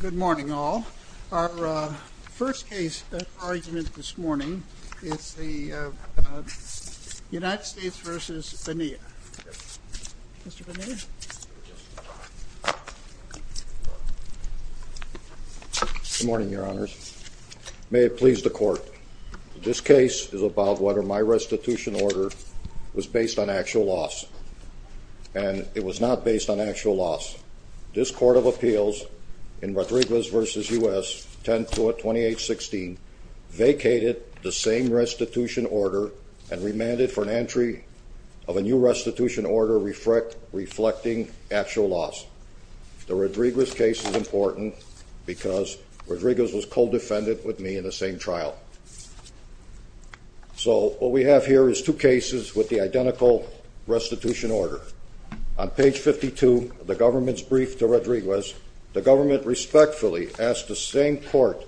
Good morning, all. Our first case argument this morning is the United States v. Bania. Mr. Bania? Good morning, Your Honors. May it please the Court, this case is about whether my restitution order was based on actual loss. And it was not based on actual loss. This Court of Appeals in Rodriguez v. U.S. 10-28-16 vacated the same restitution order and remanded for an entry of a new restitution order reflecting actual loss. The Rodriguez case is important because Rodriguez was co-defendant with me in the same trial. So what we have here is two cases with the identical restitution order. On page 52 of the government's brief to Rodriguez, the government respectfully asked the same court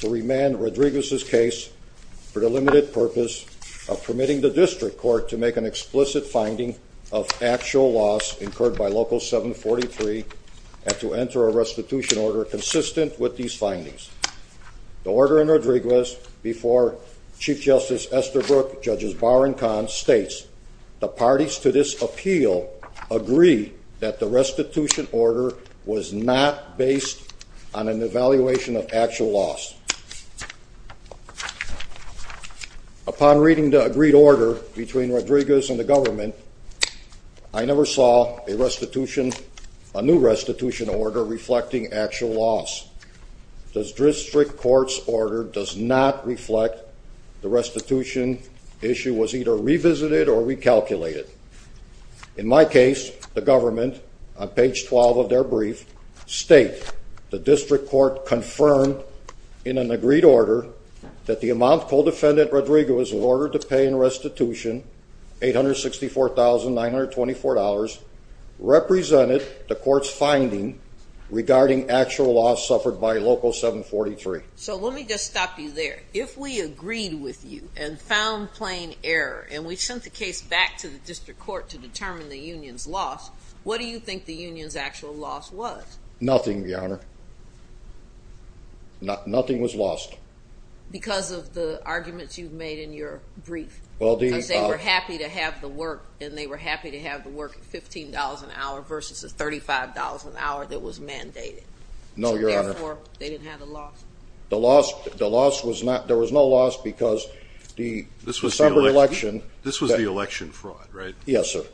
to remand Rodriguez's case for the limited purpose of permitting the district court to make an explicit finding of actual loss incurred by Local 743 and to enter a restitution order consistent with these findings. The order in Rodriguez before Chief Justice Esterbrook, Judges Bauer and Kahn states, The parties to this appeal agree that the restitution order was not based on an evaluation of actual loss. Upon reading the agreed order between Rodriguez and the government, I never saw a new restitution order reflecting actual loss. The district court's order does not reflect the restitution issue was either revisited or recalculated. In my case, the government, on page 12 of their brief, state the district court confirmed in an agreed order that the amount co-defendant Rodriguez was ordered to pay in restitution, $864,924, represented the court's finding regarding actual loss suffered by Local 743. If we agreed with you and found plain error and we sent the case back to the district court to determine the union's loss, what do you think the union's actual loss was? Nothing, Your Honor. Nothing was lost. Because of the arguments you've made in your brief? Well, the- Because they were happy to have the work and they were happy to have the work at $15 an hour versus the $35 an hour that was mandated. No, Your Honor. Or they didn't have the loss. The loss was not- there was no loss because the December election- This was the election fraud, right? Yes, sir.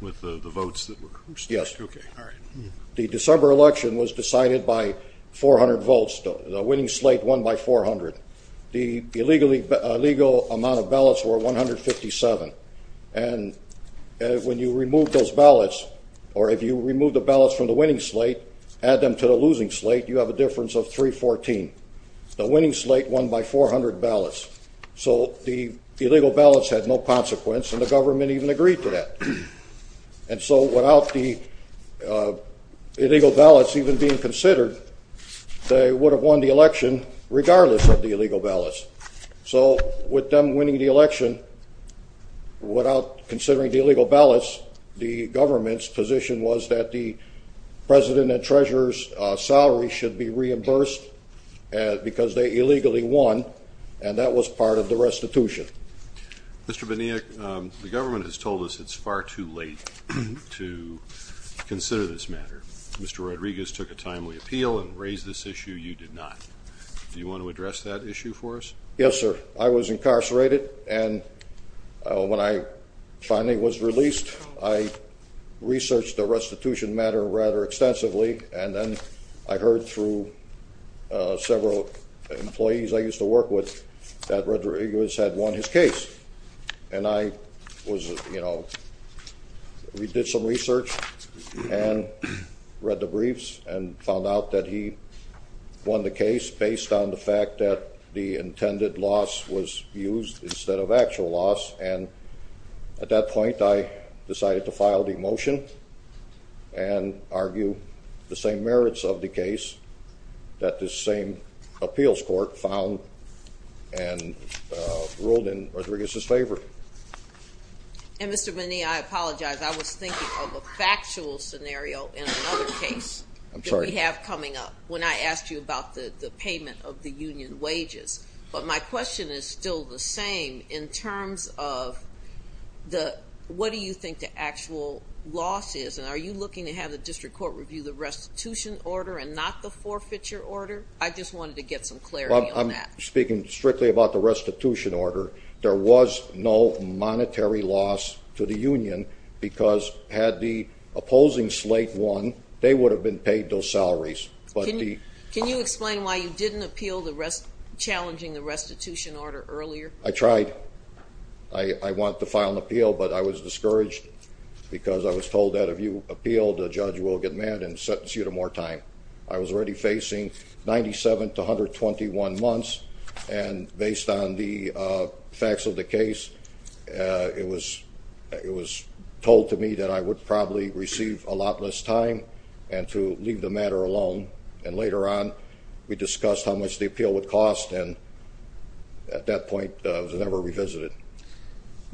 With the votes that were- Yes. Okay, all right. The December election was decided by 400 votes. The winning slate won by 400. The illegal amount of ballots were 157. And when you remove those ballots, or if you remove the ballots from the winning slate, add them to the losing slate, you have a difference of 314. The winning slate won by 400 ballots. So the illegal ballots had no consequence and the government even agreed to that. And so without the illegal ballots even being considered, they would have won the election regardless of the illegal ballots. So with them winning the election, without considering the illegal ballots, the government's position was that the president and treasurer's salary should be reimbursed because they illegally won, and that was part of the restitution. Mr. Benioff, the government has told us it's far too late to consider this matter. Mr. Rodriguez took a timely appeal and raised this issue. You did not. Do you want to address that issue for us? Yes, sir. I was incarcerated, and when I finally was released, I researched the restitution matter rather extensively, and then I heard through several employees I used to work with that Rodriguez had won his case. And I was, you know, we did some research and read the briefs and found out that he won the case based on the fact that the intended loss was used instead of actual loss. And at that point, I decided to file the motion and argue the same merits of the case that this same appeals court found and ruled in Rodriguez's favor. And, Mr. Benioff, I apologize. I was thinking of a factual scenario in another case that we have coming up when I asked you about the payment of the union wages. But my question is still the same in terms of what do you think the actual loss is? And are you looking to have the district court review the restitution order and not the forfeiture order? I just wanted to get some clarity on that. Well, I'm speaking strictly about the restitution order. There was no monetary loss to the union because had the opposing slate won, they would have been paid those salaries. Can you explain why you didn't appeal challenging the restitution order earlier? I tried. I wanted to file an appeal, but I was discouraged because I was told that if you appealed, a judge will get mad and sentence you to more time. I was already facing 97 to 121 months. And based on the facts of the case, it was told to me that I would probably receive a lot less time and to leave the matter alone. And later on, we discussed how much the appeal would cost. And at that point, it was never revisited.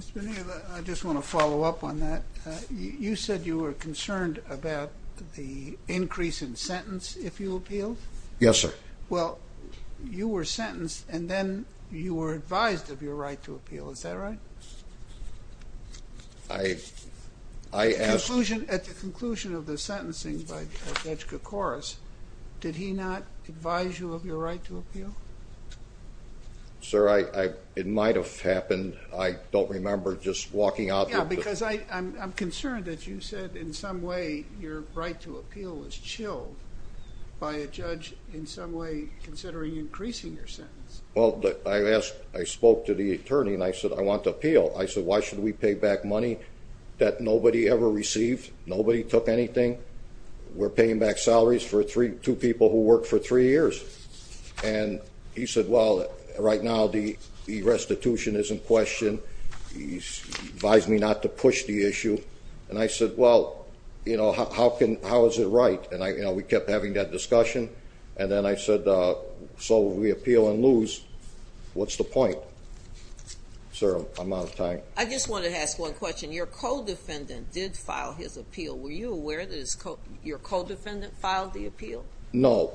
Mr. Benioff, I just want to follow up on that. You said you were concerned about the increase in sentence if you appealed? Yes, sir. Well, you were sentenced and then you were advised of your right to appeal. Is that right? I asked... At the conclusion of the sentencing by Judge Koukouras, did he not advise you of your right to appeal? Sir, it might have happened. I don't remember just walking out... Yes, because I'm concerned that you said in some way your right to appeal was chilled by a judge in some way considering increasing your sentence. Well, I spoke to the attorney and I said, I want to appeal. I said, why should we pay back money that nobody ever received? Nobody took anything. We're paying back salaries for two people who worked for three years. And he said, well, right now the restitution is in question. He advised me not to push the issue. And I said, well, how is it right? And we kept having that discussion. And then I said, so we appeal and lose. What's the point? Sir, I'm out of time. I just want to ask one question. Your co-defendant did file his appeal. Were you aware that your co-defendant filed the appeal? No.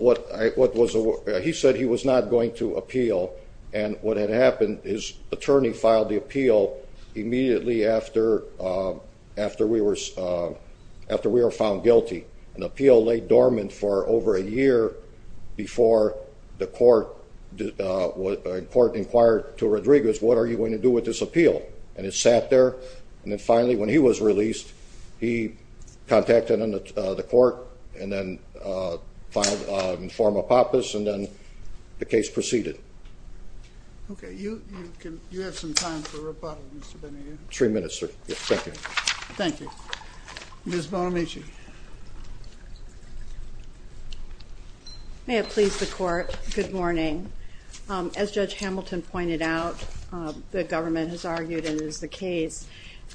He said he was not going to appeal. And what had happened, his attorney filed the appeal immediately after we were found guilty. And the appeal lay dormant for over a year before the court inquired to Rodriguez, what are you going to do with this appeal? And it sat there. And then finally, when he was released, he contacted the court and then filed a form of PAPAS. And then the case proceeded. Okay. You have some time for rebuttal, Mr. Benninger. Three minutes, sir. Thank you. Thank you. Ms. Bonamici. May it please the court, good morning. As Judge Hamilton pointed out, the government has argued and is the case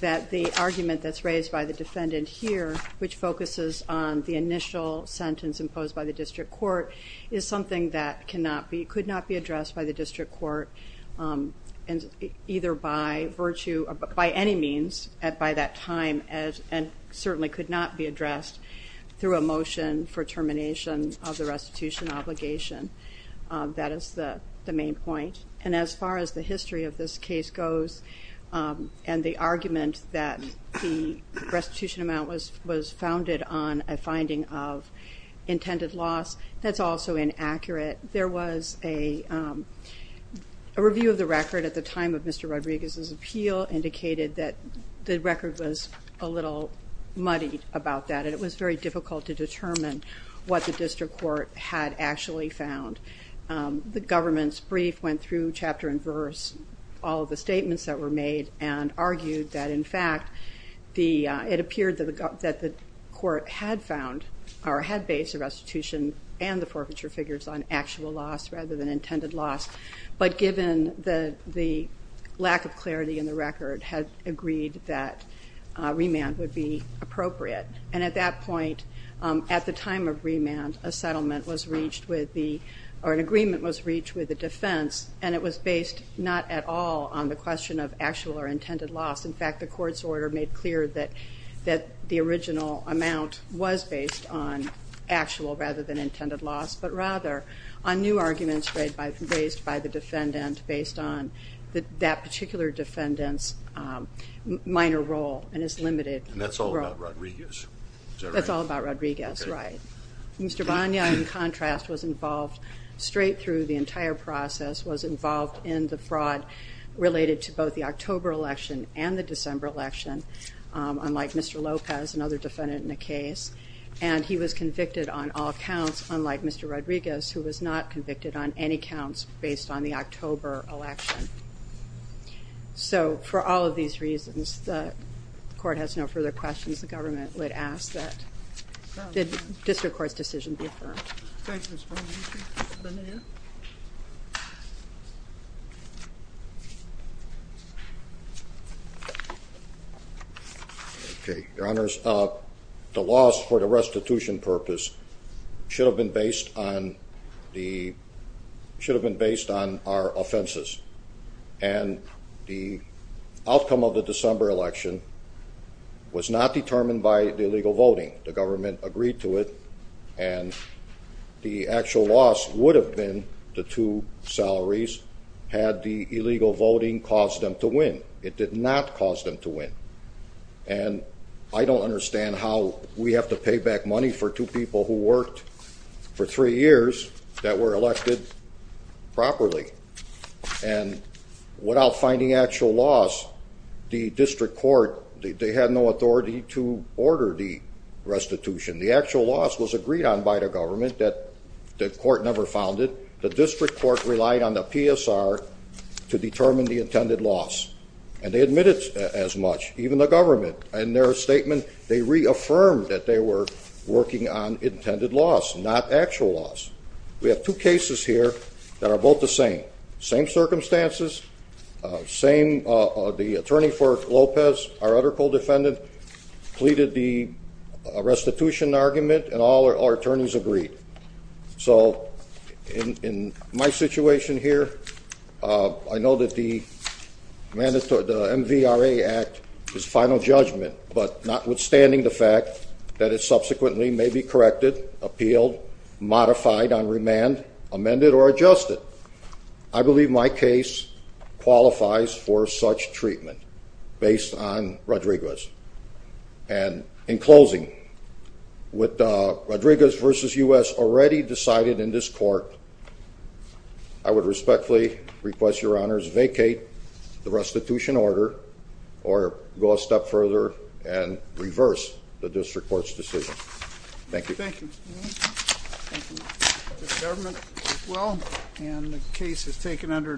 that the argument that's raised by the defendant here, which focuses on the initial sentence imposed by the district court, is something that could not be addressed by the district court either by virtue or by any means by that time and certainly could not be addressed through a motion for termination of the restitution obligation. That is the main point. And as far as the history of this case goes and the argument that the restitution amount was founded on a finding of intended loss, that's also inaccurate. There was a review of the record at the time of Mr. Rodriguez's appeal indicated that the record was a little muddy about that. It was very difficult to determine what the district court had actually found. The government's brief went through chapter and verse all of the statements that were made and argued that in fact it appeared that the court had found or had based the restitution and the forfeiture figures on actual loss rather than intended loss. But given the lack of clarity in the record, had agreed that remand would be appropriate. And at that point, at the time of remand, a settlement was reached with the or an agreement was reached with the defense and it was based not at all on the question of actual or intended loss. In fact, the court's order made clear that the original amount was based on actual rather than intended loss, but rather on new arguments raised by the defendant based on that particular defendant's minor role and his limited role. And that's all about Rodriguez? That's all about Rodriguez, right. Mr. Bonilla, in contrast, was involved straight through the entire process, was involved in the fraud related to both the October election and the December election, unlike Mr. Lopez, another defendant in the case. And he was convicted on all counts, unlike Mr. Rodriguez, who was not convicted on any counts based on the October election. So for all of these reasons, the court has no further questions. The government would ask that the district court's decision be affirmed. Thank you, Ms. Bonilla. Mr. Bonilla? Okay, Your Honors, the loss for the restitution purpose should have been based on our offenses. And the outcome of the December election was not determined by the illegal voting. The government agreed to it and the actual loss would have been the two salaries had the illegal voting caused them to win. It did not cause them to win. And I don't understand how we have to pay back money for two people who worked for three years that were elected properly. And without finding actual loss, the district court, they had no authority to order the restitution. The actual loss was agreed on by the government that the court never founded. The district court relied on the PSR to determine the intended loss. And they admitted as much, even the government. In their statement, they reaffirmed that they were working on intended loss, not actual loss. We have two cases here that are both the same. Same circumstances, the attorney for Lopez, our other co-defendant, pleaded the restitution argument and all our attorneys agreed. So in my situation here, I know that the MVRA Act is final judgment, but notwithstanding the fact that it subsequently may be corrected, appealed, modified on remand, amended or adjusted, I believe my case qualifies for such treatment based on Rodriguez. And in closing, with Rodriguez v. U.S. already decided in this court, I would respectfully request your honors vacate the restitution order or go a step further and reverse the district court's decision. Thank you. Thank you. Thank you. The government did well, and the case is taken under adjournment.